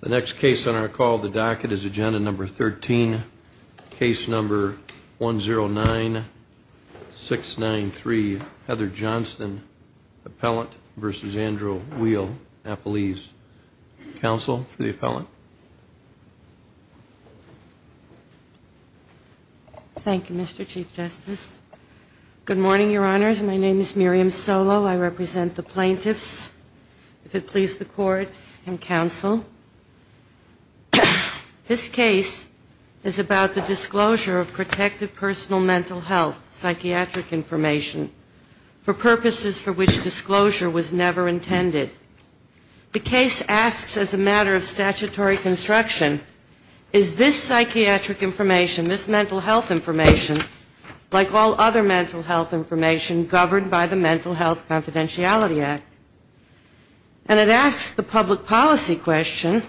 The next case on our call the docket is agenda number 13, case number 109693 Heather Johnston, appellant versus Andrew Weil, appellee's counsel for the appellant. Thank You Mr. Chief Justice. Good morning Your Honors, my name is Court and Counsel. This case is about the disclosure of protective personal mental health psychiatric information for purposes for which disclosure was never intended. The case asks as a matter of statutory construction is this psychiatric information, this mental health information, like all other mental health information governed by the Mental Health Confidentiality Act, and it asks the public policy question,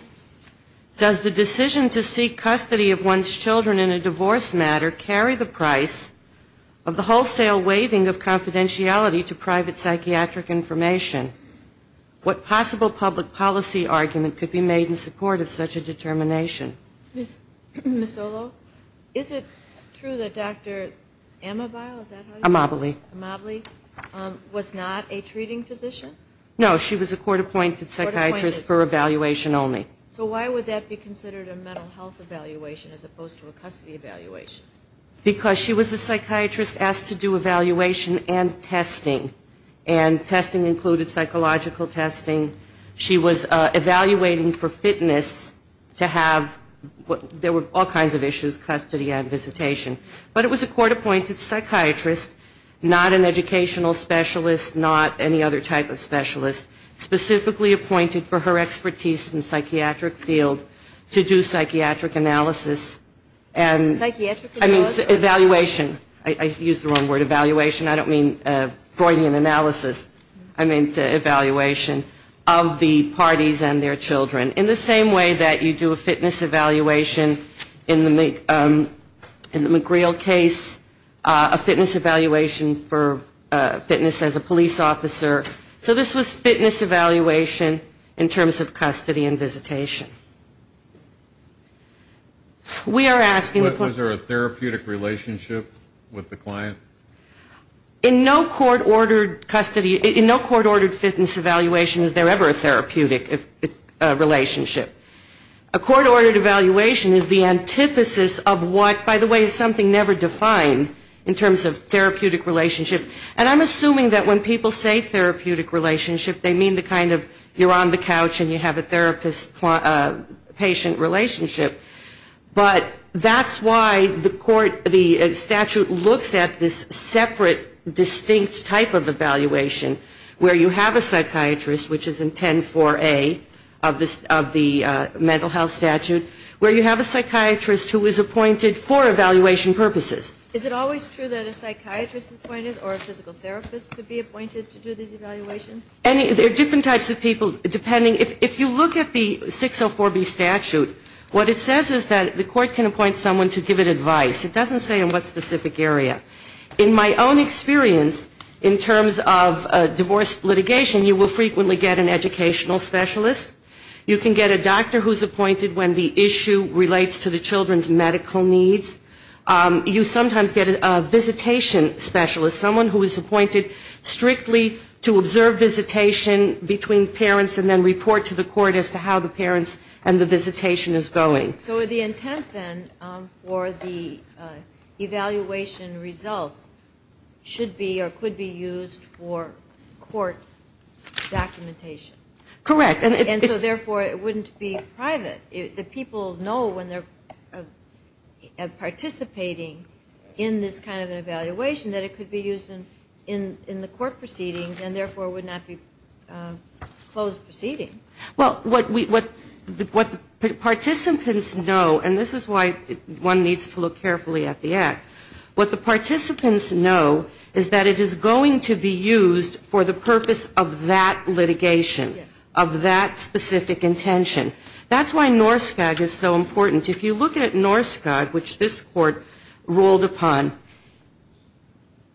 does the decision to seek custody of one's children in a divorce matter carry the price of the wholesale waiving of confidentiality to private psychiatric information? What possible public policy argument could be made in support of such a determination? Ms. Solo, is it true that Dr. Amabile, is that how you say it? Amabile. Amabile was not a treating physician? No, she was a court-appointed psychiatrist for evaluation only. So why would that be considered a mental health evaluation as opposed to a custody evaluation? Because she was a psychiatrist asked to do evaluation and testing. And testing included psychological testing. She was evaluating for fitness to have, there were all kinds of issues, custody and visitation. But it was a court-appointed psychiatrist, not an educational specialist, not any other type of specialist, specifically appointed for her expertise in the psychiatric field to do psychiatric analysis and evaluation. I used the wrong word, evaluation. I don't mean Freudian analysis. I mean evaluation of the parties and their children. In the same way that you do a fitness evaluation in the McGreal case, a physical fitness as a police officer. So this was fitness evaluation in terms of custody and visitation. Was there a therapeutic relationship with the client? In no court-ordered fitness evaluation is there ever a therapeutic relationship. A court-ordered evaluation is the antithesis of what, by the way, is something never defined in terms of therapeutic relationship. And I'm assuming that when people say therapeutic relationship, they mean the kind of you're on the couch and you have a therapist-patient relationship. But that's why the statute looks at this separate, distinct type of evaluation where you have a psychiatrist, which is in 10-4A of the mental health statute, where you have a psychiatrist who is appointed for evaluation purposes. Is it always true that a psychiatrist is appointed or a physical therapist could be appointed to do these evaluations? There are different types of people, depending. If you look at the 604B statute, what it says is that the court can appoint someone to give it advice. It doesn't say in what specific area. In my own experience, in terms of divorce litigation, you will frequently get an educational specialist. You can get a doctor who's appointed when the issue relates to the children's medical needs. You sometimes get a visitation specialist, someone who is appointed strictly to observe visitation between parents and then report to the court as to how the parents and the visitation is going. So the intent, then, for the evaluation results should be or could be used for court documentation? Correct. And so, therefore, it wouldn't be private. The people know when they're participating in this kind of an evaluation that it could be used in the court proceedings and, therefore, would not be closed proceedings. Well, what participants know, and this is why one needs to look carefully at the act, what the participants know is that it is going to be used for the purpose of that litigation, of that specific intention. That's why NORSCOG is so important. If you look at NORSCOG, which this court ruled upon,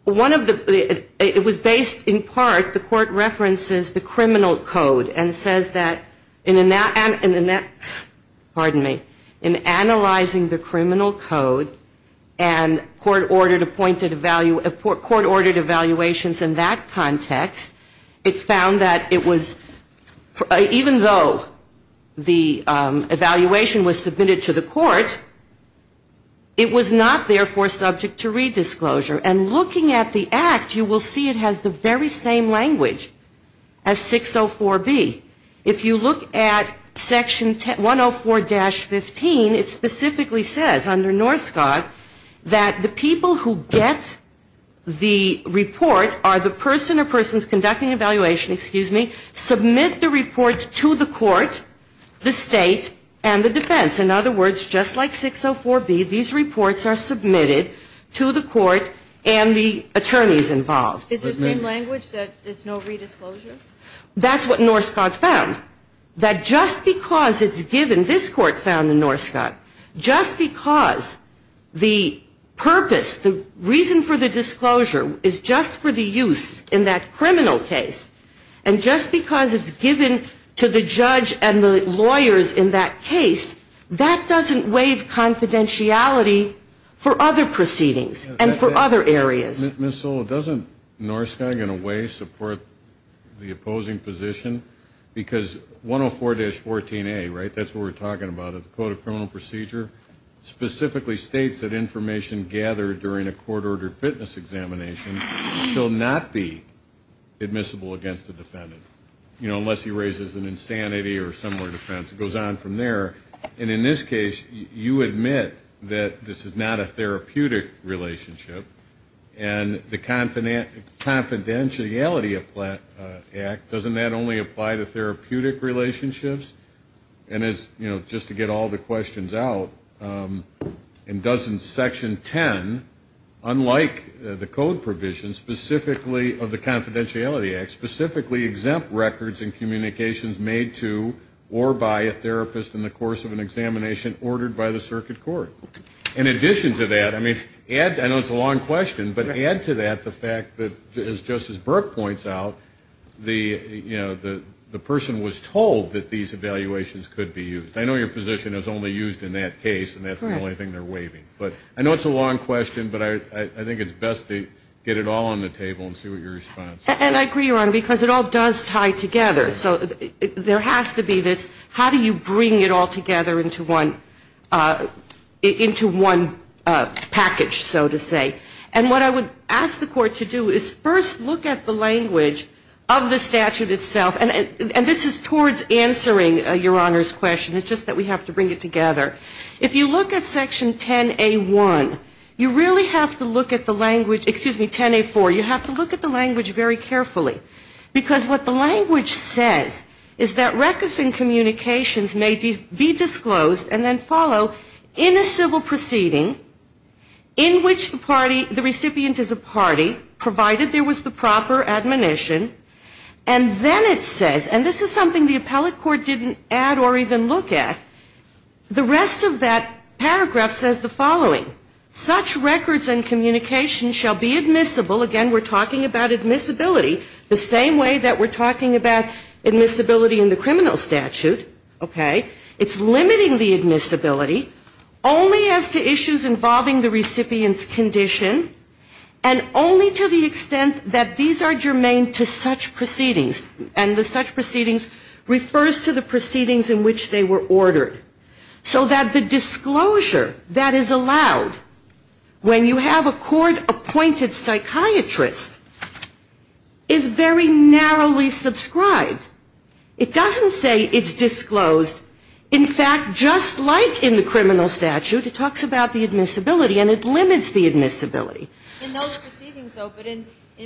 one of the, it was based, in part, the court references the criminal code and says that, pardon me, in analyzing the criminal code and court-ordered evaluations in that context, it was not, therefore, subject to redisclosure. And looking at the act, you will see it has the very same language as 604B. If you look at section 104-15, it specifically says, under NORSCOG, that the people who get the report are the person or persons conducting evaluation, the state and the defense. In other words, just like 604B, these reports are submitted to the court and the attorneys involved. Is there same language that it's no redisclosure? That's what NORSCOG found. That just because it's given, this court found in NORSCOG, just because the purpose, the reason for the disclosure is just for the use in that criminal case, and just because it's given to the defense and the lawyers in that case, that doesn't waive confidentiality for other proceedings and for other areas. Ms. Sola, doesn't NORSCOG, in a way, support the opposing position? Because 104-14A, right, that's what we're talking about, the Code of Criminal Procedure, specifically states that information gathered during a court-ordered fitness examination shall not be admissible against the person or defense. It goes on from there. And in this case, you admit that this is not a therapeutic relationship. And the Confidentiality Act, doesn't that only apply to therapeutic relationships? And as, you know, just to get all the questions out, and doesn't Section 10, unlike the Code provision, specifically of the court-ordered fitness examination, or by a therapist in the course of an examination ordered by the circuit court. In addition to that, I mean, add, I know it's a long question, but add to that the fact that, as Justice Burke points out, the, you know, the person was told that these evaluations could be used. I know your position is only used in that case, and that's the only thing they're waiving. But I know it's a long question, but I think it's best to get it all on the table and see what your response is. And I agree, Your Honor, because it all does tie together. So there has to be this, how do you bring it all together into one, into one package, so to say. And what I would ask the Court to do is first look at the language of the statute itself, and this is towards answering Your Honor's question. It's just that we have to bring it together. If you look at Section 10A1, you really have to look at the language, excuse me, 10A4, you have to look at the language very carefully. Because what the language says is that records and communications may be disclosed and then follow in a civil proceeding in which the party, the recipient is a party, provided there was the proper admonition. And then it says, and this is something the appellate court didn't add or even look at, the rest of that paragraph says the following. Such records and communications shall be admissible, again we're talking about admissibility, the same way that we're talking about admissibility in the criminal statute, okay, it's limiting the admissibility, only as to issues involving the recipient's condition, and only to the extent that these are germane to such proceedings. And the such proceedings refers to the proceedings in which they were when you have a court-appointed psychiatrist is very narrowly subscribed. It doesn't say it's disclosed. In fact, just like in the criminal statute, it talks about the admissibility and it limits the admissibility. And those proceedings, though, but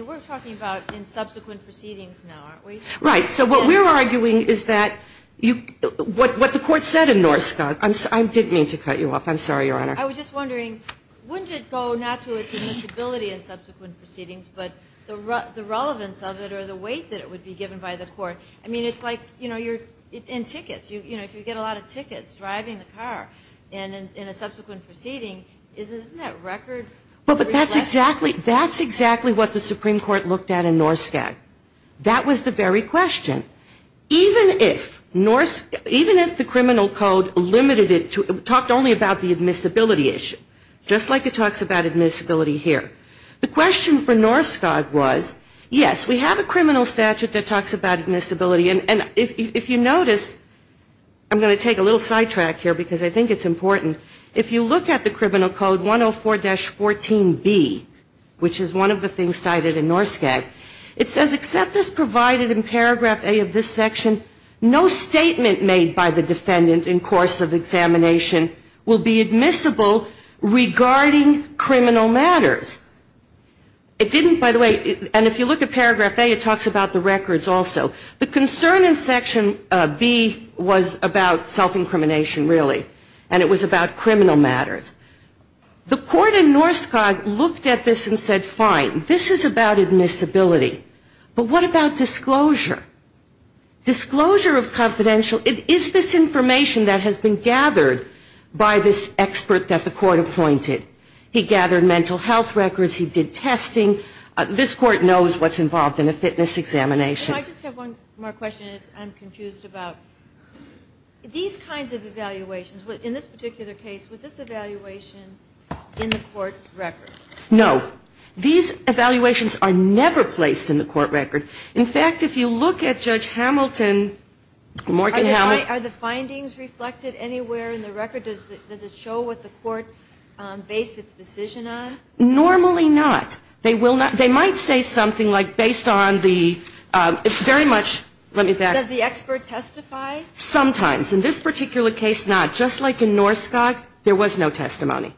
we're talking about in subsequent proceedings now, aren't we? Right. So what we're arguing is that what the court said in Norskog, I didn't mean to cut you off, I'm sorry, Your Honor. I was just wondering, wouldn't it go not to its admissibility in subsequent proceedings, but the relevance of it or the weight that it would be given by the court? I mean, it's like, you know, in tickets, you know, if you get a lot of tickets driving the car in a subsequent proceeding, isn't that record? But that's exactly what the Supreme Court looked at in Norskog. That was the very question. Even if Norskog, even if the criminal code limited it to, talked only about the admissibility issue, just like it talks about admissibility here. The question for Norskog was, yes, we have a criminal statute that talks about admissibility. And if you notice, I'm going to take a little sidetrack here because I think it's important. If you look at the criminal code 104-14B, which is one of the things cited in Norskog, it says, except as provided in paragraph A of this section, no statement made by the defendant in course of examination will be admissible regarding criminal matters. It didn't, by the way, and if you look at paragraph A, it talks about the records also. The concern in section B was about self-incrimination, really. And it was about criminal matters. The court in Norskog looked at this and said, fine, this is about admissibility. But what about disclosure? Disclosure of confidential, it is this information that has been gathered by this expert that the court appointed. He gathered mental health records. He did testing. This court knows what's involved in a fitness examination. I just have one more question. I'm confused about these kinds of evaluations. In this particular case, was this evaluation in the court record? No. These evaluations are never placed in the court record. In fact, if you look at Judge Hamilton, Morgan Hamilton. Are the findings reflected anywhere in the record? Does it show what the court based its decision on? Normally not. They will not. They might say something like based on the, it's very much, let me back up. Does the expert testify? Sometimes. In this particular case, not. Just like in Norskog, there was no testimony.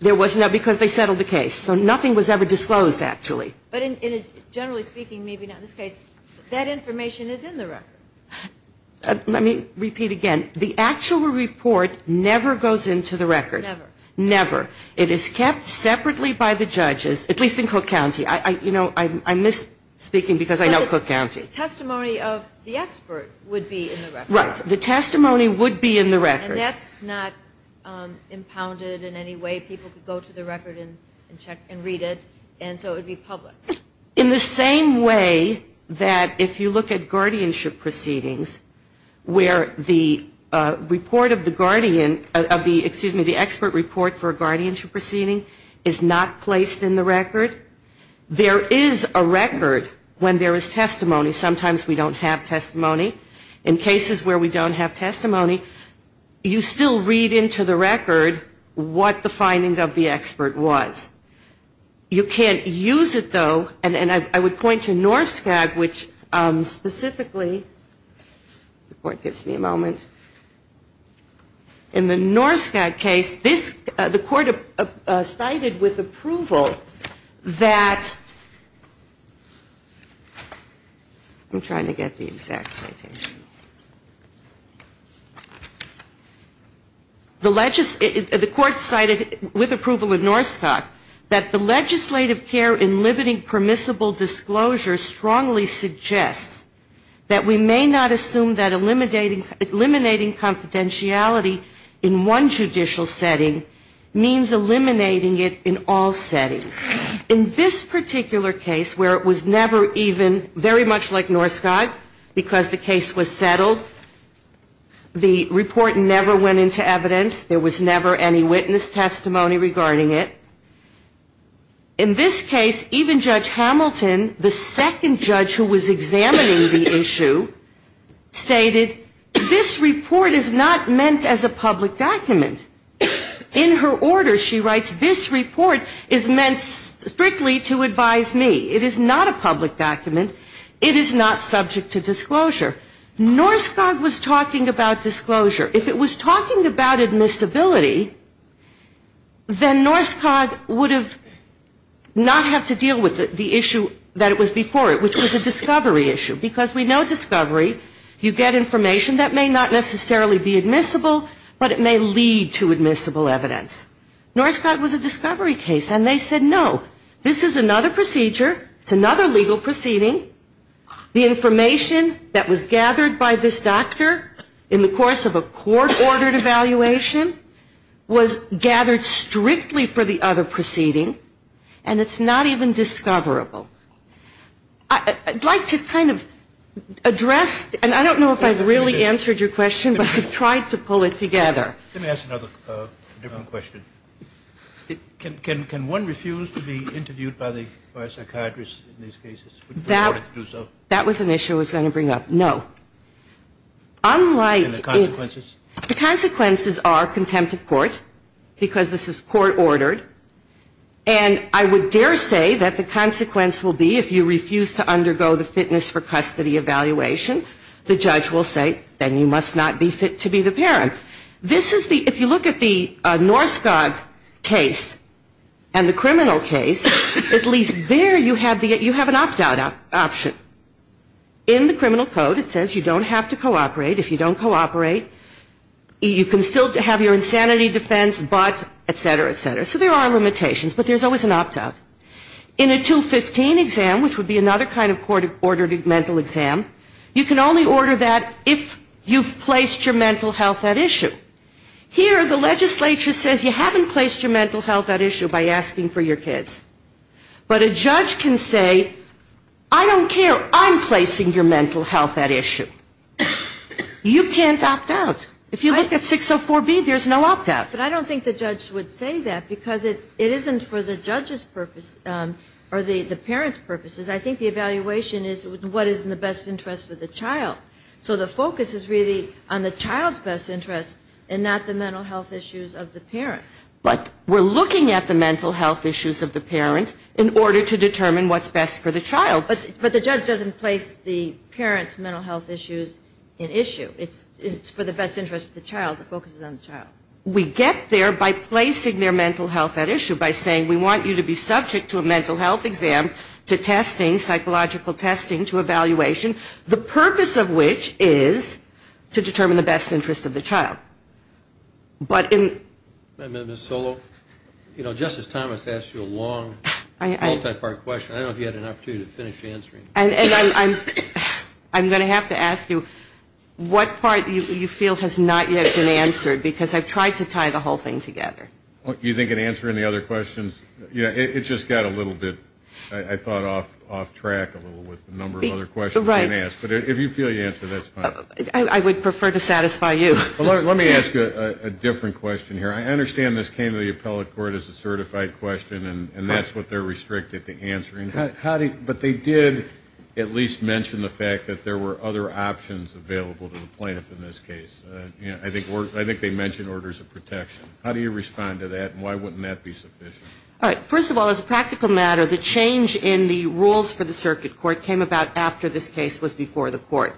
There was no, because they settled the case. So nothing was ever disclosed, actually. But generally speaking, maybe not in this case, that information is in the record. Let me repeat again. The actual report never goes into the record. Never. Never. It is kept separately by the judges, at least in Cook County. You know, I miss speaking because I know Cook County. But the testimony of the expert would be in the record. Right. The testimony would be in the record. And that's not impounded in any way. People could go to the record and read it. And so it would be public. In the same way that if you look at guardianship proceedings, where the expert report for a guardianship proceeding is not placed in the record, there is a record when there is testimony. Sometimes we don't have testimony. In cases where we don't have testimony, you still read into the record what the findings of the expert was. You can't use it, though. And I would point to Norskag, which specifically the court gives me a moment. In the Norskag case, the court cited with approval that the court cited with approval of Norskag that the legislative care in limiting permissible disclosure strongly suggests that we may not assume that eliminating confidentiality in one judicial setting means eliminating it in all settings. In this particular case where it was never even, very much like Norskag, because the case was settled, the report never went into evidence. There was never any witness testimony regarding it. In this case, even Judge Hamilton, the second judge who was examining the issue, stated this report is not meant as a public document. In her order, she writes, this report is meant strictly to advise me. It is not a public document. It is not subject to disclosure. Norskag was talking about disclosure. If it was talking about admissibility, then Norskag would have not have to deal with the issue that it was before it, which was a discovery issue. Because we know discovery, you get information that may not necessarily be admissible, but it may lead to admissible evidence. Norskag was a discovery case, and they said, no, this is another procedure. It's another legal proceeding. The information that was gathered by this doctor in the course of a court-ordered evaluation was gathered strictly for the other proceeding, and it's not even discoverable. I'd like to kind of address, and I don't know if I've really answered your question, but I've tried to pull it together. Let me ask another different question. Can one refuse to be interviewed by a psychiatrist in these cases in order to do so? That was an issue I was going to bring up. No. And the consequences? The consequences are contempt of court, because this is court-ordered, and I would dare say that the consequence will be if you refuse to undergo the fitness for custody evaluation, the judge will say, then you must not be fit to be the parent. If you look at the Norskag case and the criminal case, at least there you have an opt-out option. In the criminal code it says you don't have to cooperate. If you don't cooperate, you can still have your insanity defense, but, et cetera, et cetera. So there are limitations, but there's always an opt-out. In a 215 exam, which would be another kind of court-ordered mental exam, you can only order that if you've placed your mental health at issue. Here the legislature says you haven't placed your mental health at issue by asking for your kids. But a judge can say, I don't care, I'm placing your mental health at issue. You can't opt out. If you look at 604B, there's no opt-out. But I don't think the judge would say that, because it isn't for the judge's purpose or the parent's purposes. I think the evaluation is what is in the best interest of the child. So the focus is really on the child's best interest and not the mental health issues of the parent. But we're looking at the mental health issues of the parent in order to determine what's best for the child. But the judge doesn't place the parent's mental health issues in issue. It's for the best interest of the child. The focus is on the child. We get there by placing their mental health at issue, by saying we want you to be subject to a mental health exam to testing, psychological testing, to evaluation. The purpose of which is to determine the best interest of the child. But in the... Just a minute, Ms. Solo. You know, Justice Thomas asked you a long, multi-part question. I don't know if you had an opportunity to finish answering it. And I'm going to have to ask you what part you feel has not yet been answered, because I've tried to tie the whole thing together. You think in answering the other questions? It just got a little bit, I thought, off track a little with the number of other questions being asked. But if you feel you answered it, that's fine. I would prefer to satisfy you. Let me ask you a different question here. I understand this came to the appellate court as a certified question, and that's what they're restricted to answering. But they did at least mention the fact that there were other options available to the plaintiff in this case. I think they mentioned orders of protection. How do you respond to that, and why wouldn't that be sufficient? All right. First of all, as a practical matter, the change in the rules for the circuit court came about after this case was before the court.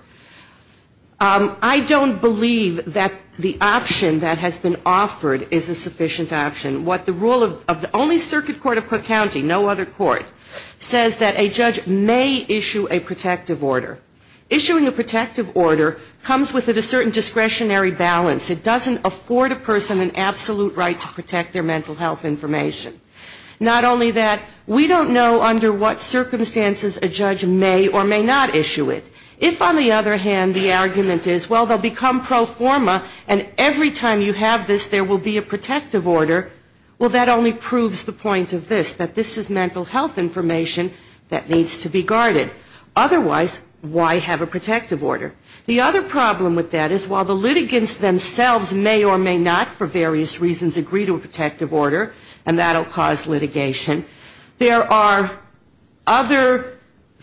I don't believe that the option that has been offered is a sufficient option. What the rule of the only circuit court of Cook County, no other court, says that a judge may issue a protective order. Issuing a protective order comes with a certain discretionary balance. It doesn't afford a person an absolute right to protect their mental health information. Not only that, we don't know under what circumstances a judge may or may not issue it. If, on the other hand, the argument is, well, they'll become pro forma, and every time you have this, there will be a protective order, well, that only proves the point of this, that this is mental health information that needs to be guarded. Otherwise, why have a protective order? The other problem with that is while the litigants themselves may or may not for various reasons agree to a protective order, and that will cause litigation, there are other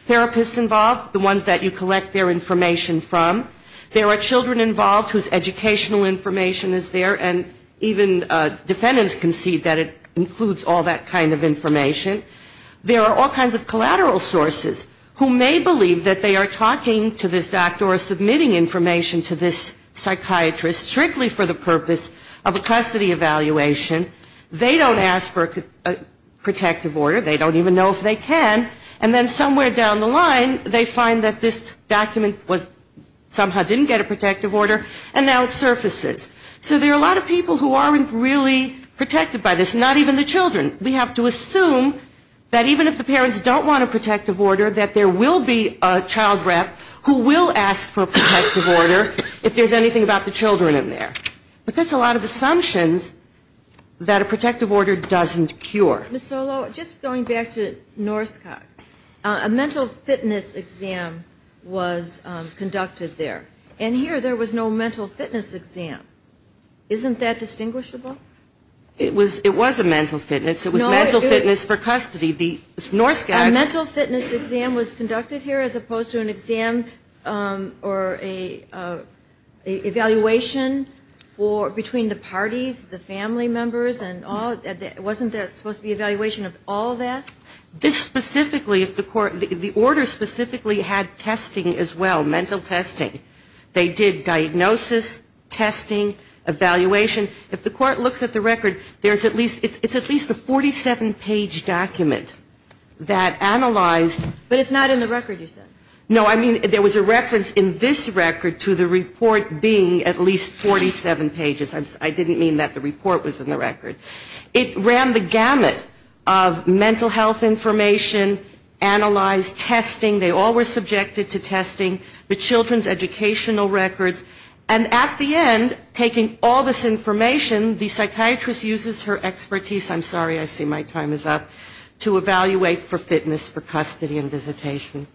therapists involved, the ones that you collect their information from. There are children involved whose educational information is there, and even defendants can see that it includes all that kind of information. There are all kinds of collateral sources who may believe that they are talking to this doctor or submitting information to this psychiatrist strictly for the purpose of a custody evaluation. They don't ask for a protective order. They don't even know if they can. And then somewhere down the line, they find that this document somehow didn't get a protective order, and now it surfaces. So there are a lot of people who aren't really protected by this, not even the children. We have to assume that even if the parents don't want a protective order, that there will be a child rep who will ask for a protective order if there's anything about the children in there. But that's a lot of assumptions that a protective order doesn't cure. Ms. Solo, just going back to Norskog, a mental fitness exam was conducted there, and here there was no mental fitness exam. Isn't that distinguishable? It was a mental fitness. It was mental fitness for custody. The Norskog. A mental fitness exam was conducted here as opposed to an exam or an evaluation between the parties, the family members, and all? Wasn't there supposed to be an evaluation of all that? This specifically, the order specifically had testing as well, mental testing. They did diagnosis, testing, evaluation. If the court looks at the record, it's at least a 47-page document that analyzed. But it's not in the record, you said. No, I mean there was a reference in this record to the report being at least 47 pages. I didn't mean that the report was in the record. It ran the gamut of mental health information, analyzed testing. They all were subjected to testing. The children's educational records. And at the end, taking all this information, the psychiatrist uses her expertise, I'm sorry, I see my time is up, to evaluate for fitness for custody and visitation.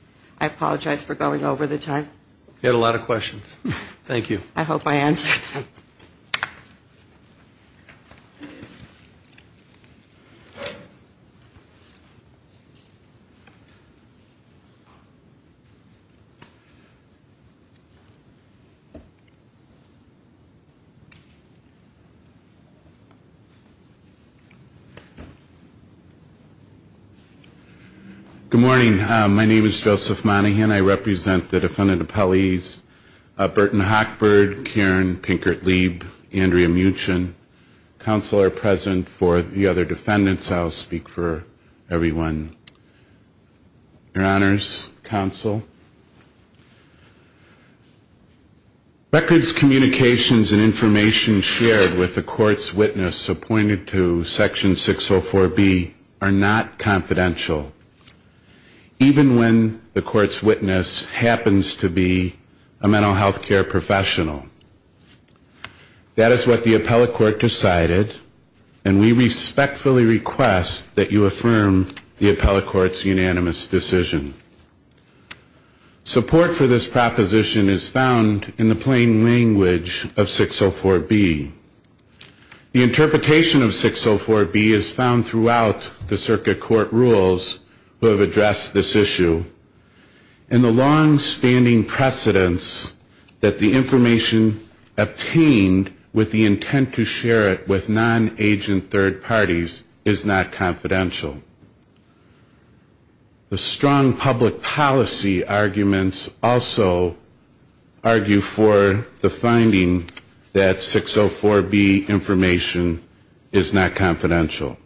I apologize for going over the time. You had a lot of questions. Thank you. I hope I answered them. Thank you. Good morning. My name is Joseph Monahan. I represent the defendant appellees Burton Hochberg, Karen Pinkert-Leib, Andrea Muchen. Counsel are present for the other defendants. I'll speak for everyone. Your honors, counsel, records, communications, and information shared with the court's witness appointed to section 604B are not confidential. Even when the court's witness happens to be a mental health care professional. That is what the appellate court decided. And we respectfully request that you affirm the appellate court's unanimous decision. Support for this proposition is found in the plain language of 604B. The interpretation of 604B is found throughout the circuit court rules who have addressed this issue. And the longstanding precedence that the information obtained with the intent to share it with non-agent third parties is not confidential. The strong public policy arguments also argue for the finding that 604B information is not confidential.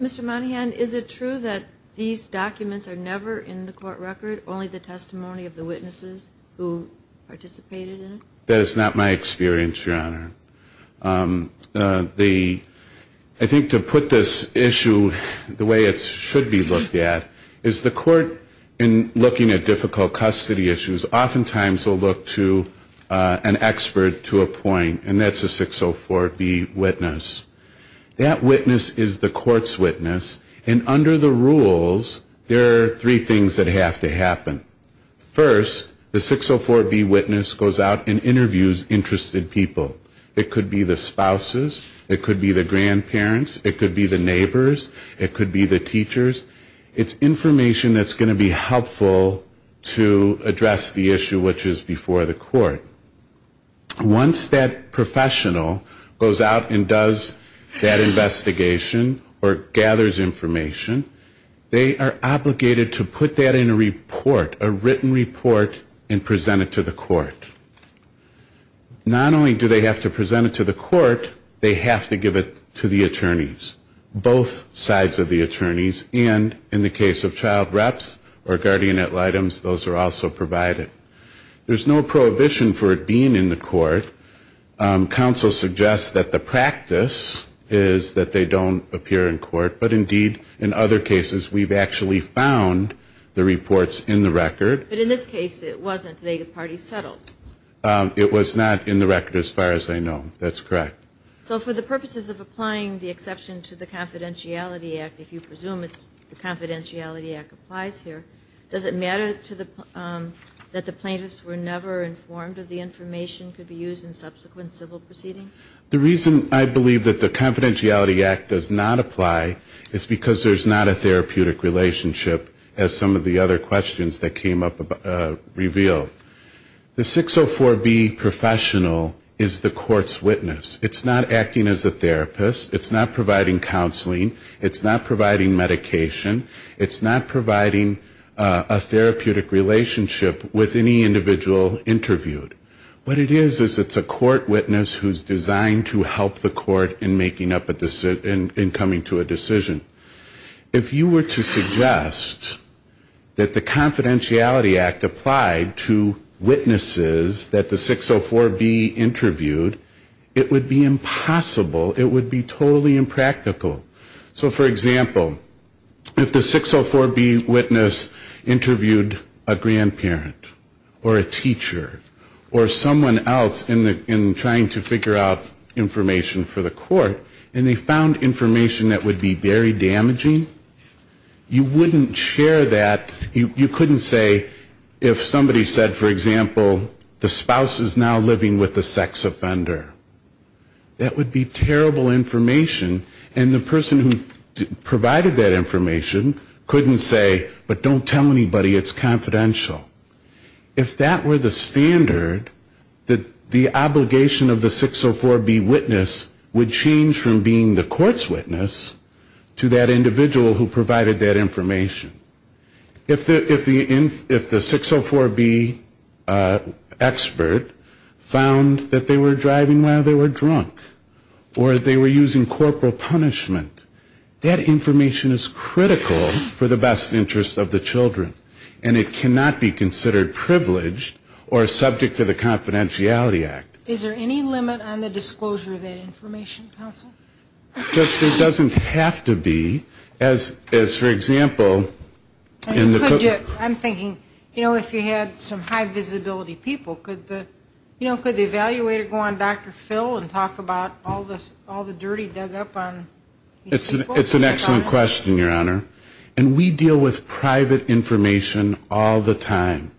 Mr. Monahan, is it true that these documents are never in the court record, only the testimony of the witnesses who participated in it? That is not my experience, your honor. I think to put this issue the way it should be looked at is the court, in looking at difficult custody issues, oftentimes will look to an expert to a point, and that's a 604B witness. That witness is the court's witness, and under the rules, there are three things that have to happen. First, the 604B witness goes out and interviews interested people. It could be the spouses, it could be the grandparents, it could be the neighbors, it could be the teachers. It's information that's going to be helpful to address the issue which is before the court. Once that professional goes out and does that investigation or gathers information, they are obligated to put that in a report, a written report, and present it to the court. Not only do they have to present it to the court, they have to give it to the attorneys. Both sides of the attorneys, and in the case of child reps or guardian items, those are also provided. There's no prohibition for it being in the court. Counsel suggests that the practice is that they don't appear in court, but indeed, in other cases, we've actually found the reports in the record. But in this case, it wasn't. The parties settled. It was not in the record as far as I know. That's correct. So for the purposes of applying the exception to the Confidentiality Act, if you presume the Confidentiality Act applies here, does it matter that the plaintiffs were never informed of the information that could be used in subsequent civil proceedings? The reason I believe that the Confidentiality Act does not apply is because there's not a therapeutic relationship, as some of the other questions that came up revealed. The 604B professional is the court's witness. It's not acting as a therapist. It's not providing counseling. It's not providing medication. It's not providing a therapeutic relationship with any individual interviewed. What it is is it's a court witness who's designed to help the court in making up a decision, in coming to a decision. If you were to suggest that the Confidentiality Act applied to witnesses that the 604B interviewed, it would be impossible. It would be totally impractical. So for example, if the 604B witness interviewed a grandparent or a teacher or someone else in trying to figure out information for the court, and they found information that would be very damaging, you wouldn't share that. You couldn't say if somebody said, for example, the spouse is now living with a sex offender. That would be terrible information. And the person who provided that information couldn't say, but don't tell anybody it's confidential. If that were the standard, the obligation of the 604B witness would change from being the court's witness to that individual who provided that information. If the 604B expert found that they were driving while they were drunk, or they were using corporal punishment, that information is critical for the best interest of the children. And it cannot be considered privileged or subject to the Confidentiality Act. Is there any limit on the disclosure of that information, counsel? Judge, there doesn't have to be. As, for example, in the Could you, I'm thinking, you know, if you had some high visibility people, could the evaluator go on Dr. Phil and talk about all the dirty dug up on these people? It's an excellent question, Your Honor. And we deal with private information all the time.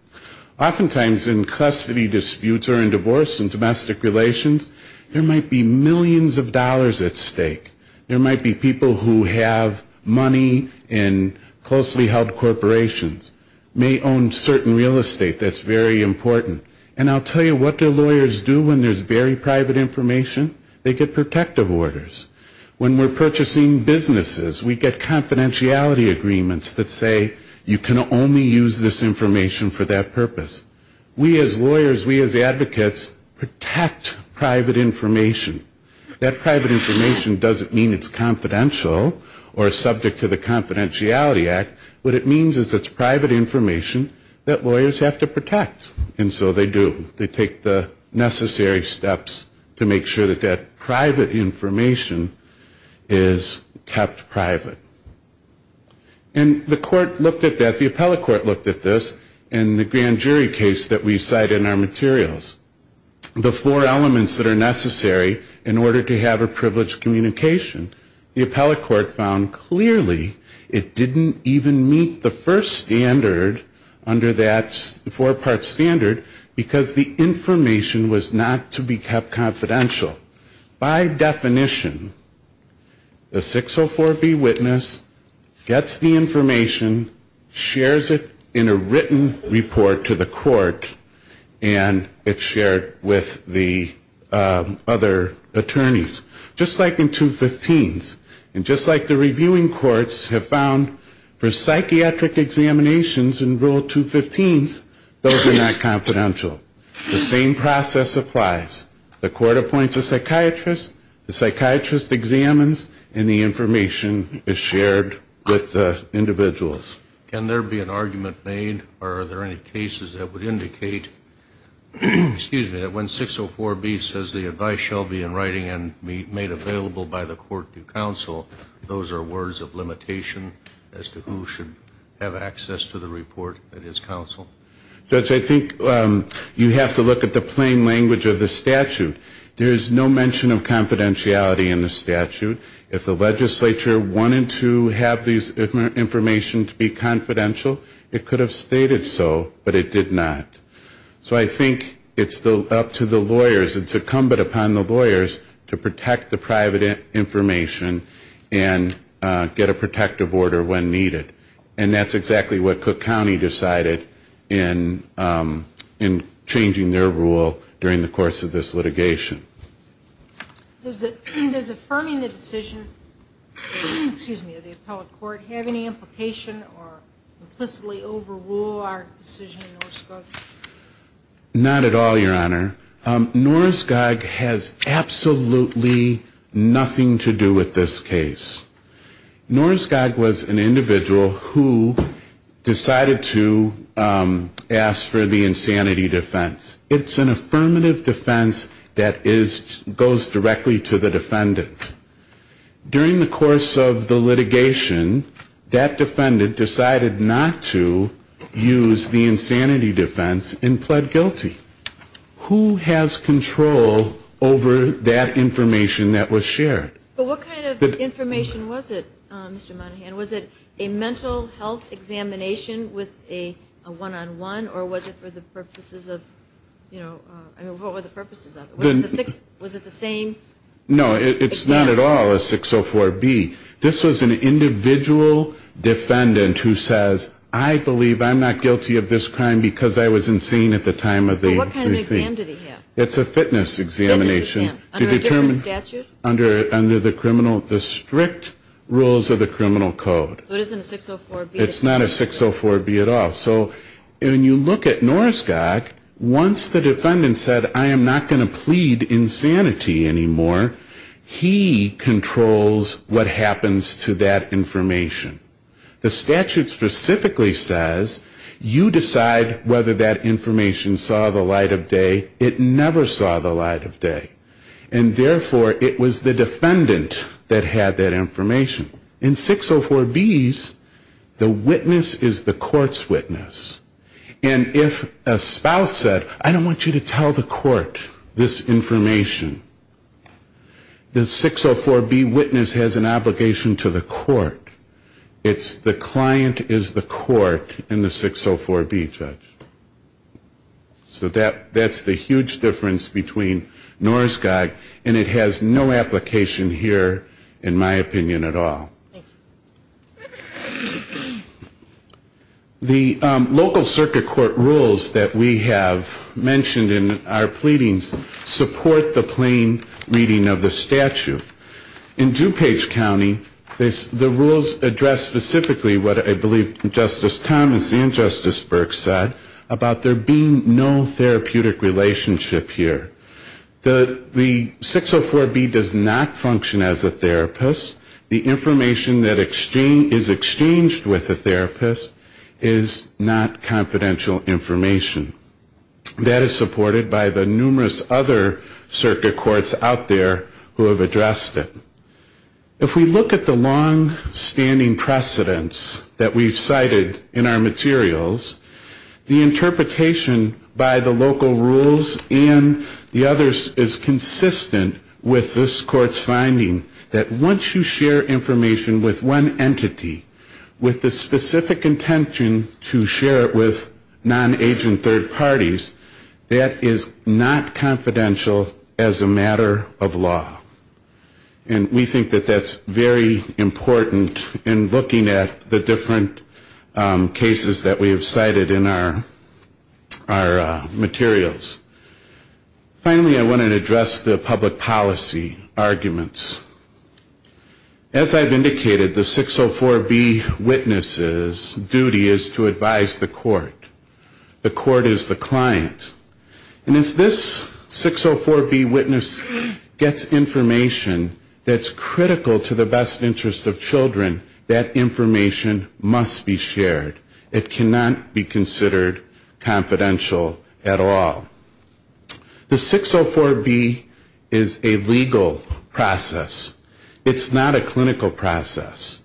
Oftentimes in custody disputes or in divorce and domestic relations, there might be millions of dollars at stake. There might be people who have money in closely held corporations, may own certain real estate that's very important. And I'll tell you what the lawyers do when there's very private information. They get protective orders. When we're purchasing businesses, we get confidentiality agreements that say, you can only use this information for that purpose. We as lawyers, we as advocates, protect private information. That private information doesn't mean it's confidential or subject to the Confidentiality Act. What it means is it's private information that lawyers have to protect. And so they do. They take the necessary steps to make sure that that private information is kept private. And the court looked at that, the appellate court looked at this in the grand jury case that we cite in our materials. The four elements that are necessary in order to have a privileged communication. The appellate court found clearly it didn't even meet the first standard under that four-part standard because the information was not to be kept confidential. By definition, the 604B witness gets the information, shares it in a written report to the court, and it's shared with the other attorneys. Just like in 215s. And just like the reviewing courts have found for psychiatric examinations in Rule 215s, those are not confidential. The same process applies. The court appoints a psychiatrist, the psychiatrist examines, and the information is shared with the individuals. Can there be an argument made, or are there any cases that would indicate, excuse me, that when 604B says the advice shall be in writing and made available by the court to counsel, those are words of limitation as to who should have access to the report that is counsel? Judge, I think you have to look at the plain language of the statute. There is no mention of confidentiality in the statute. If the legislature wanted to have this information to be confidential, it could have stated so, but it did not. So I think it's up to the lawyers, it's incumbent upon the lawyers to protect the private information and get a protective order when needed. And that's exactly what Cook County decided in changing their rule during the course of this litigation. Does affirming the decision, excuse me, of the appellate court have any implication or implicitly overrule our decision in Norskog? Not at all, Your Honor. Norskog has absolutely nothing to do with this case. Norskog was an individual who decided to ask for the insanity defense. It's an affirmative defense that goes directly to the defendant. During the course of the litigation, that defendant decided not to use the insanity defense and pled guilty. Who has control over that information that was shared? But what kind of information was it, Mr. Monahan? Was it a mental health examination with a one-on-one, or was it for the purposes of, you know, I mean, what were the purposes of it? Was it the same exam? No, it's not at all a 604B. This was an individual defendant who says, I believe I'm not guilty of this crime because I was insane at the time of the receipt. But what kind of exam did he have? It's a fitness examination. Under a different statute? Under the criminal, the strict rules of the criminal code. So it isn't a 604B? It's not a 604B at all. So when you look at Norskog, once the defendant said, I am not going to plead insanity anymore, he controls what happens to that information. The statute specifically says you decide whether that information saw the light of day. It never saw the light of day. And therefore, it was the defendant that had that information. In 604Bs, the witness is the court's witness. And if a spouse said, I don't want you to tell the court this information, the 604B witness has an obligation to the court. It's the client is the court in the 604B judge. So that's the huge difference between Norskog, and it has no application here in my opinion at all. The local circuit court rules that we have mentioned in our pleadings support the plain reading of the statute. In DuPage County, the rules address specifically what I believe Justice Thomas and Justice Burke said about there being no therapeutic relationship here. The 604B does not function as a therapist. The information that is exchanged with the therapist is not confidential information. That is supported by the numerous other circuit courts out there who have addressed it. If we look at the longstanding precedents that we've cited in our materials, the interpretation by the local rules and the others is consistent with this court's finding that once you share information with one entity with the specific intention to share it with non-agent third parties, that is not confidential as a matter of law. And we think that that's very important in looking at the different cases that we have cited in our materials. Finally, I want to address the public policy arguments. As I've indicated, the 604B witness's duty is to advise the court. The court is the client. And if this 604B witness gets information that's critical to the best interest of children, that information must be shared. It cannot be considered confidential at all. The 604B is a legal process. It's not a clinical process.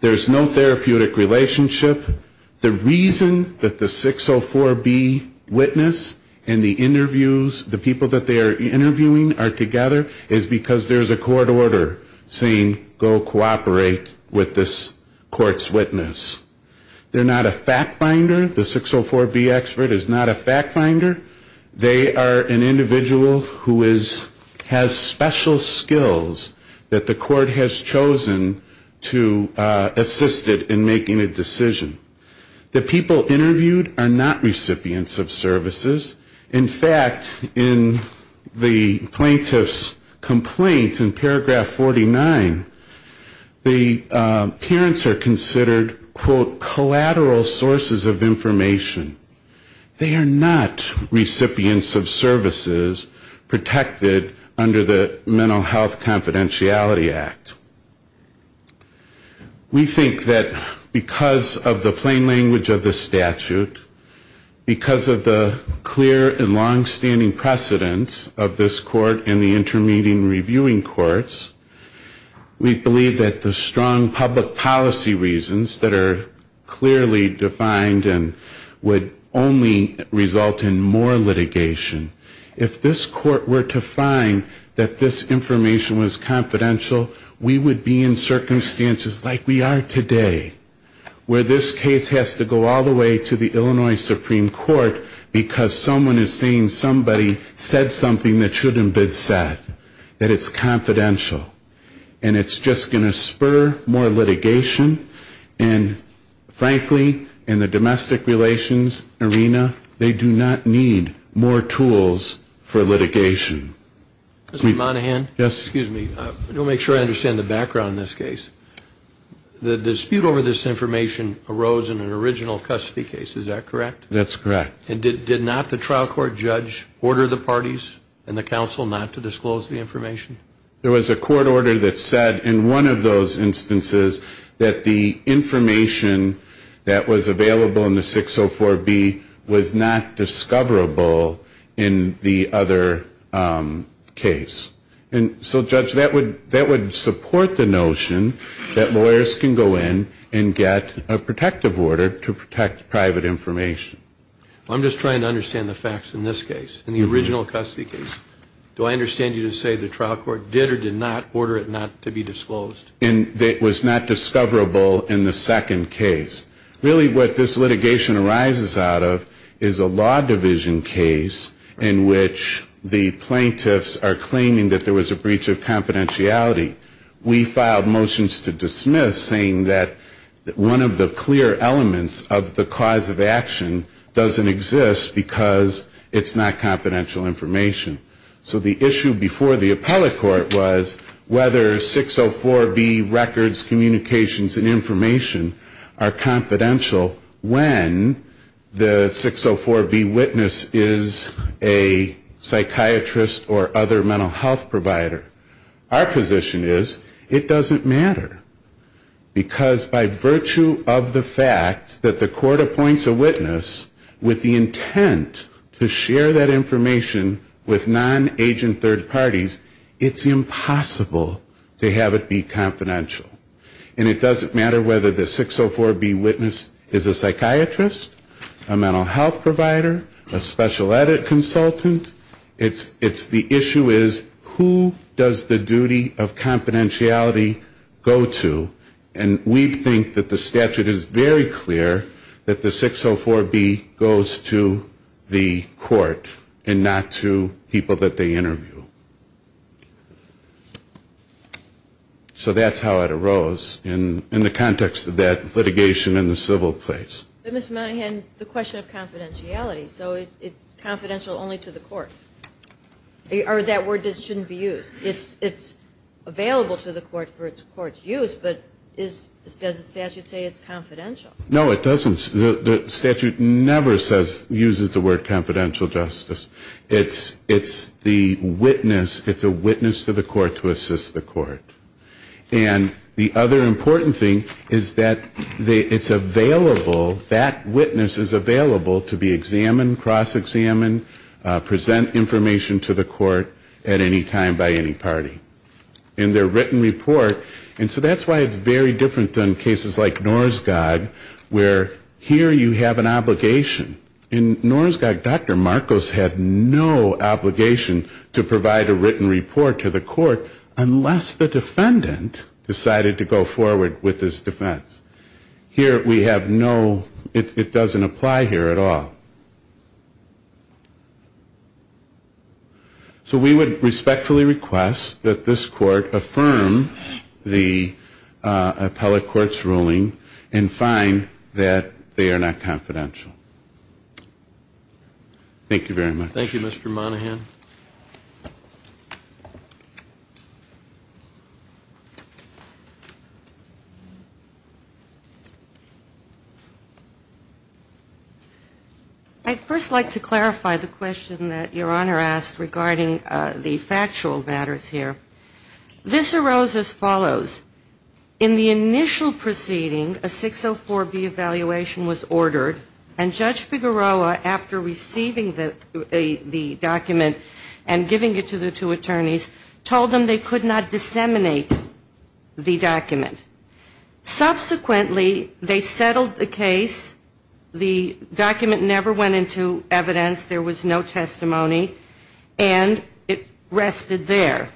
There's no therapeutic relationship. The reason that the 604B witness and the interviews, the people that they are interviewing are together, is because there's a court order saying go cooperate with this court's witness. They're not a fact finder. The 604B expert is not a fact finder. They are an individual who has special skills that the court has chosen to assist it in making a decision. The people interviewed are not recipients of services. In fact, in the plaintiff's complaint in paragraph 49, the parents are considered, quote, collateral sources of information. They are not recipients of services protected under the Mental Health Confidentiality Act. We think that because of the plain language of the statute, because of the clear and long-standing precedence of this court and the inter-meeting reviewing courts, we believe that the strong public policy reasons that are clearly defined and would only result in more litigation. If this court were to find that this information was confidential, we would be in circumstances like we are today, where this case has to go all the way to the Illinois Supreme Court because someone is saying somebody said something that shouldn't have been said, that it's confidential. And it's just going to spur more litigation, and frankly, in the domestic relations arena, they do not need more tools for litigation. Mr. Monahan? Yes. Excuse me. I want to make sure I understand the background in this case. The dispute over this information arose in an original custody case, is that correct? That's correct. And did not the trial court judge order the parties and the counsel not to disclose the information? There was a court order that said in one of those instances that the information that was available in the 604B was not discoverable in the other case. And so, Judge, that would support the notion that lawyers can go in and get a protective order to protect private information. I'm just trying to understand the facts in this case, in the original custody case. Do I understand you to say the trial court did or did not order it not to be disclosed? It was not discoverable in the second case. Really what this litigation arises out of is a law division case in which the plaintiffs are claiming that there was a breach of confidentiality. We filed motions to dismiss saying that one of the clear elements of the cause of action doesn't exist because it's not confidential information. So the issue before the appellate court was whether 604B records, communications, and information are confidential when the 604B witness is a psychiatrist or other mental health provider. Our position is it doesn't matter, because by virtue of the fact that the court appoints a witness with the intent to share that information with non-agent third parties, it's impossible to have it be confidential. And it doesn't matter whether the 604B witness is a psychiatrist, a mental health provider, a special edit consultant, it's the issue is who does the duty of confidentiality go to. And we think that the statute is very clear that the 604B goes to the court. And not to people that they interview. So that's how it arose in the context of that litigation in the civil case. But Mr. Monahan, the question of confidentiality, so it's confidential only to the court? Or that word just shouldn't be used? It's available to the court for its court's use, but does the statute say it's confidential? No, it doesn't. The statute never says, uses the word confidential justice. It's the witness, it's a witness to the court to assist the court. And the other important thing is that it's available, that witness is available to be examined, cross-examined, present information to the court at any time by any party. In their written report, and so that's why it's very different than cases like Norskog where here you have an obligation. In Norskog, Dr. Marcos had no obligation to provide a written report to the court unless the defendant decided to go forward with his defense. Here we have no, it doesn't apply here at all. So we would respectfully request that this court affirm the appellate court's ruling and find that they are not confidential. Thank you very much. Thank you, Mr. Monahan. I'd first like to clarify the question that Your Honor asked regarding the factual matters here. This arose as follows. In the initial proceeding, a 604B evaluation was ordered, and Judge Figueroa, after receiving the document and giving it to the two attorneys, told them they could not disseminate the document. Subsequently, they settled the case, the document never went into evidence, there was no testimony, and it rested there.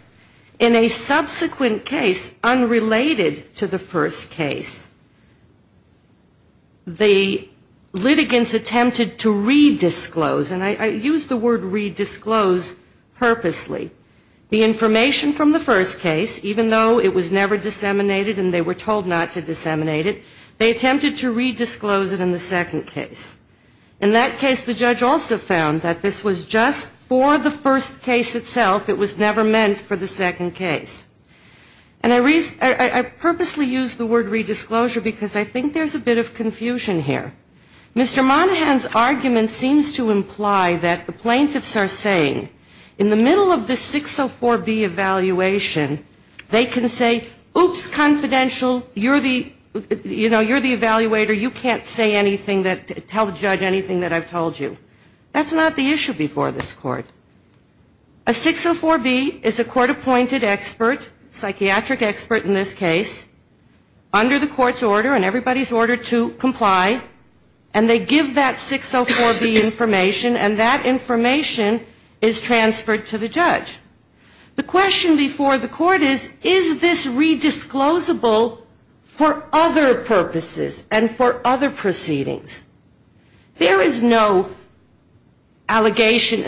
In a subsequent case unrelated to the first case, the litigants attempted to re-disclose, and I use the word re-disclose purposely, the information from the first case, even though it was never disseminated and they were told not to disseminate it, they attempted to re-disclose it in the second case. In that case, the judge also found that this was just for the first case itself, it was never meant for the second case. And I purposely use the word re-disclosure because I think there's a bit of confusion here. Mr. Monahan's argument seems to imply that the plaintiffs are saying, in the middle of this 604B evaluation, they can say, oops, confidential, you're the evaluator, you can't say anything that tells us anything. You can't tell the judge anything that I've told you. That's not the issue before this Court. A 604B is a court-appointed expert, psychiatric expert in this case, under the Court's order and everybody's order to comply, and they give that 604B information, and that information is transferred to the judge. The question before the Court is, is this re-disclosable for other purposes and for other proceedings? There is no allegation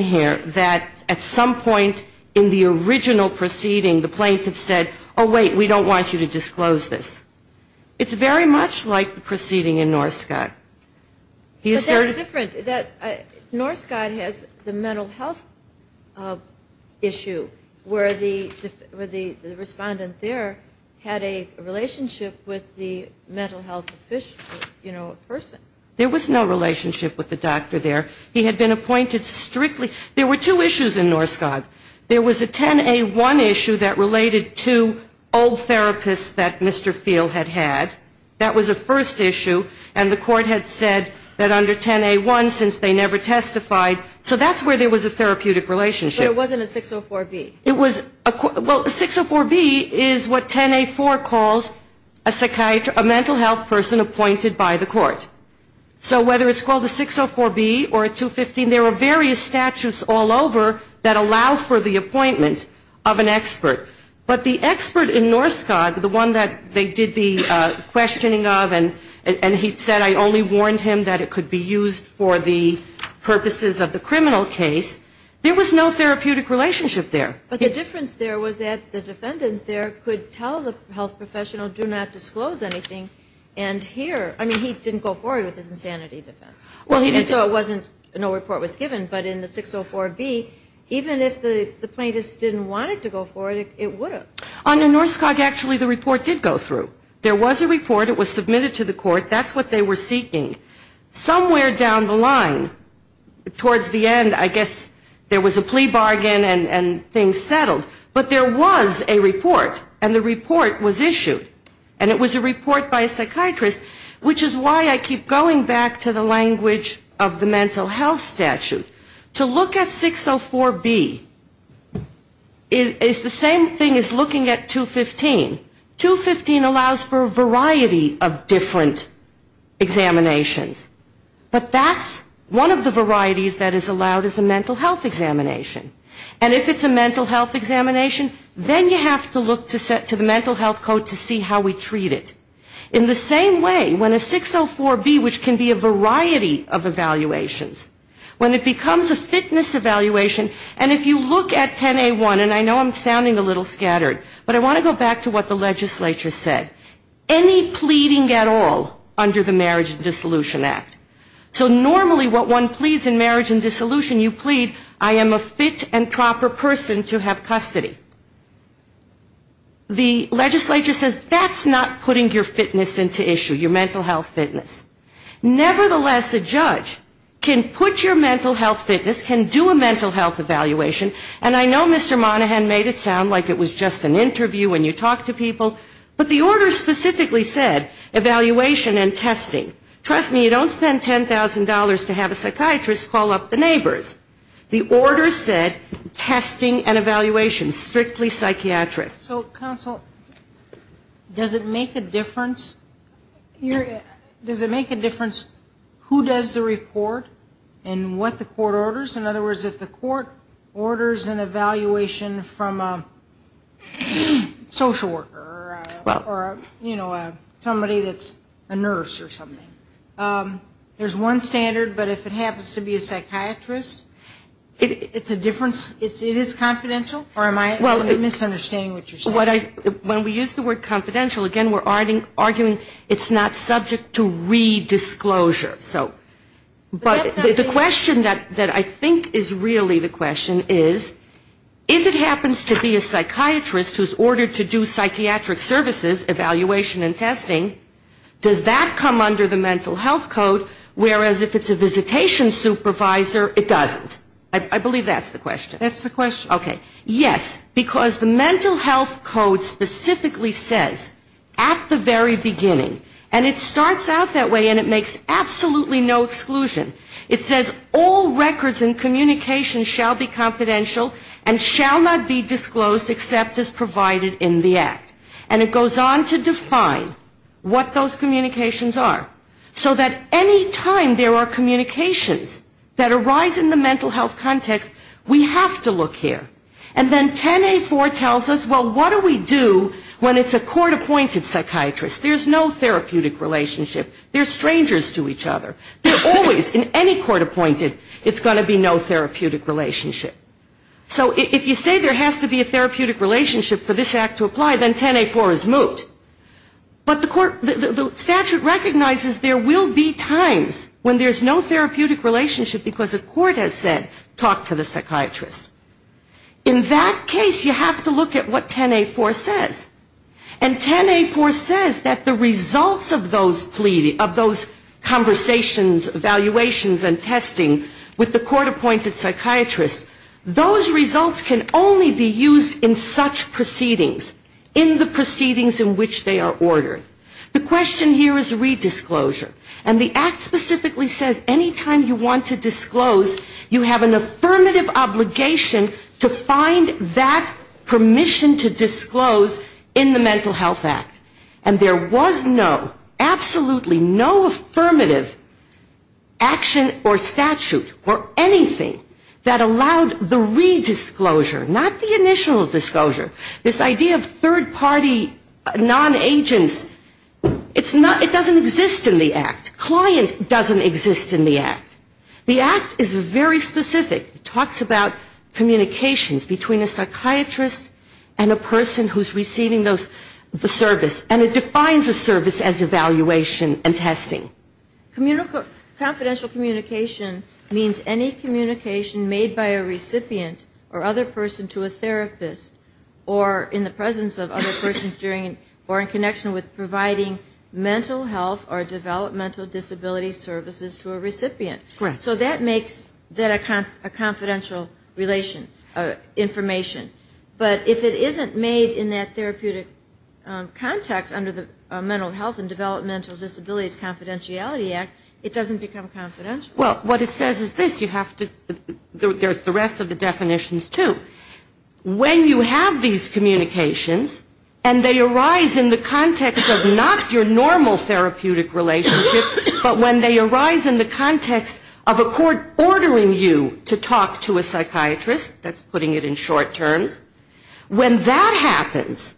here that at some point in the original proceeding, the plaintiff said, oh, wait, we don't want you to disclose this. It's very much like the proceeding in Norscot. Norscot has the mental health issue, where the respondent there had a relationship with the mental health official, you know, a person. There was no relationship with the doctor there. He had been appointed strictly, there were two issues in Norscot. There was a 10A1 issue that related to old therapists that Mr. Field had had. That was a first issue, and the Court had said that under 10A1, since they never testified, so that's where there was a therapeutic relationship. But it wasn't a 604B. It was, well, 604B is what 10A4 calls a mental health person appointed by the Court. So whether it's called a 604B or a 215, there are various statutes all over that allow for the appointment of an expert. But the expert in Norscot, the one that they did the questioning of, and he said, I only warned him that it could be used for the purposes of the criminal case, there was no therapeutic relationship there. But the difference there was that the defendant there could tell the health professional, do not disclose anything, and here, I mean, he didn't go forward with his insanity defense. And so it wasn't, no report was given, but in the 604B, even if the plaintiff didn't want it to go forward, it would have. Under Norscot, actually, the report did go through. There was a report, it was submitted to the Court, that's what they were seeking. There was a plea bargain and things settled, but there was a report, and the report was issued. And it was a report by a psychiatrist, which is why I keep going back to the language of the mental health statute. To look at 604B is the same thing as looking at 215. 215 allows for a variety of different examinations. But that's one of the varieties that is allowed is a mental health examination. And if it's a mental health examination, then you have to look to the mental health code to see how we treat it. In the same way, when a 604B, which can be a variety of evaluations, when it becomes a fitness evaluation, and if you look at 10A1, and I know I'm sounding a little scattered, but I want to go back to what the legislature said. Any pleading at all under the Marriage and Dissolution Act. So normally what one pleads in marriage and dissolution, you plead I am a fit and proper person to have custody. The legislature says that's not putting your fitness into issue, your mental health fitness. Nevertheless, a judge can put your mental health fitness, can do a mental health evaluation, and I know Mr. Monaghan made it sound like it was just an interview when you talk to people, but the order specifically said evaluation and testing. Trust me, you don't spend $10,000 to have a psychiatrist call up the neighbors. The order said testing and evaluation, strictly psychiatric. So counsel, does it make a difference, does it make a difference who does the report and what the court orders? In other words, if the court orders an evaluation from a social worker or, you know, somebody that's a nurse or something, there's one standard, but if it happens to be a psychiatrist, it's a difference, it is confidential, or am I misunderstanding what you're saying? When we use the word confidential, again, we're arguing it's not subject to re-disclosure. So, but the question that I think is really the question is, if it happens to be a psychiatrist who's ordered to do psychiatric services, evaluation and testing, does that come under the mental health code, whereas if it's a visitation supervisor, it doesn't? I believe that's the question. There's absolutely no exclusion. It says all records and communications shall be confidential and shall not be disclosed except as provided in the act. And it goes on to define what those communications are, so that any time there are communications that arise in the mental health context, we have to look here. And then 10A4 tells us, well, what do we do when it's a court-appointed psychiatrist? There's no therapeutic relationship. They're strangers to each other. They're always, in any court-appointed, it's going to be no therapeutic relationship. So if you say there has to be a therapeutic relationship for this act to apply, then 10A4 is moot. But the statute recognizes there will be times when there's no therapeutic relationship because a court has said, talk to the psychiatrist. In that case, you have to look at what 10A4 says. And look at the results of those conversations, evaluations and testing with the court-appointed psychiatrist. Those results can only be used in such proceedings, in the proceedings in which they are ordered. The question here is redisclosure. And the act specifically says any time you want to disclose, you have an affirmative obligation to find that permission to disclose in the Mental Health Act. There was no, absolutely no affirmative action or statute or anything that allowed the redisclosure, not the initial disclosure. This idea of third-party non-agents, it doesn't exist in the act. Client doesn't exist in the act. The act is very specific. It talks about communications between a psychiatrist and a person who's receiving the service. And it defines a service as evaluation and testing. Confidential communication means any communication made by a recipient or other person to a therapist or in the presence of other persons during or in connection with providing mental health or developmental disability services to a recipient. So that makes that a confidential relation, information. But if it isn't made in that therapeutic context under the Mental Health and Developmental Disabilities Confidentiality Act, it doesn't become confidential. Well, what it says is this, you have to, there's the rest of the definitions, too. When you have these communications, and they arise in the context of not your normal therapeutic relationship, but when they arise in the context of a court ordering you to talk to a psychiatrist, that's putting it in short term. When that happens,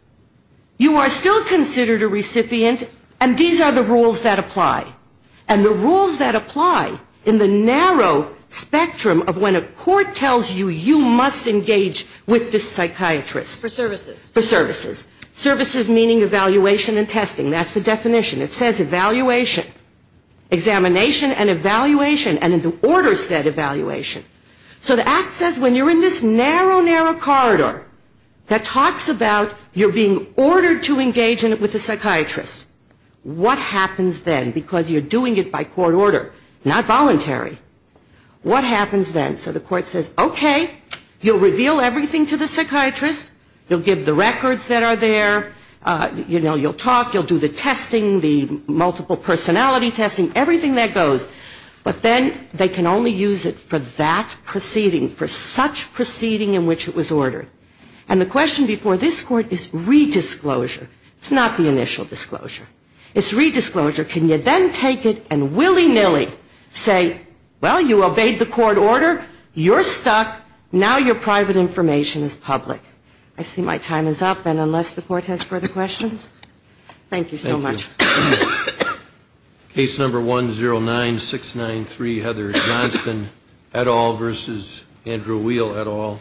you are still considered a recipient, and these are the rules that apply. And the rules that apply in the narrow spectrum of when a court tells you you must engage with this psychiatrist. For services. For services. Services meaning evaluation and testing. That's the definition. It says evaluation. Examination and evaluation. And the order said evaluation. So the act says when you're in this narrow, narrow corridor that talks about you're being ordered to engage with a psychiatrist, what happens then? Because you're doing it by court order, not voluntary. What happens then? So the court says, okay, you'll reveal everything to the psychiatrist, you'll give the records that are there, you know, you'll talk, you'll do the testing, the multiple personality testing, everything that goes. But then they can only use it for that proceeding, for such proceeding in which it was ordered. And the question before this court is redisclosure. It's not the initial disclosure. It's redisclosure. Can you then take it and willy-nilly say, well, you obeyed the court order, you're stuck, now your private information is public. I see my time is up, and unless the court has further questions, thank you so much. Case number 109693, Heather Johnston et al versus Andrew Weal et al.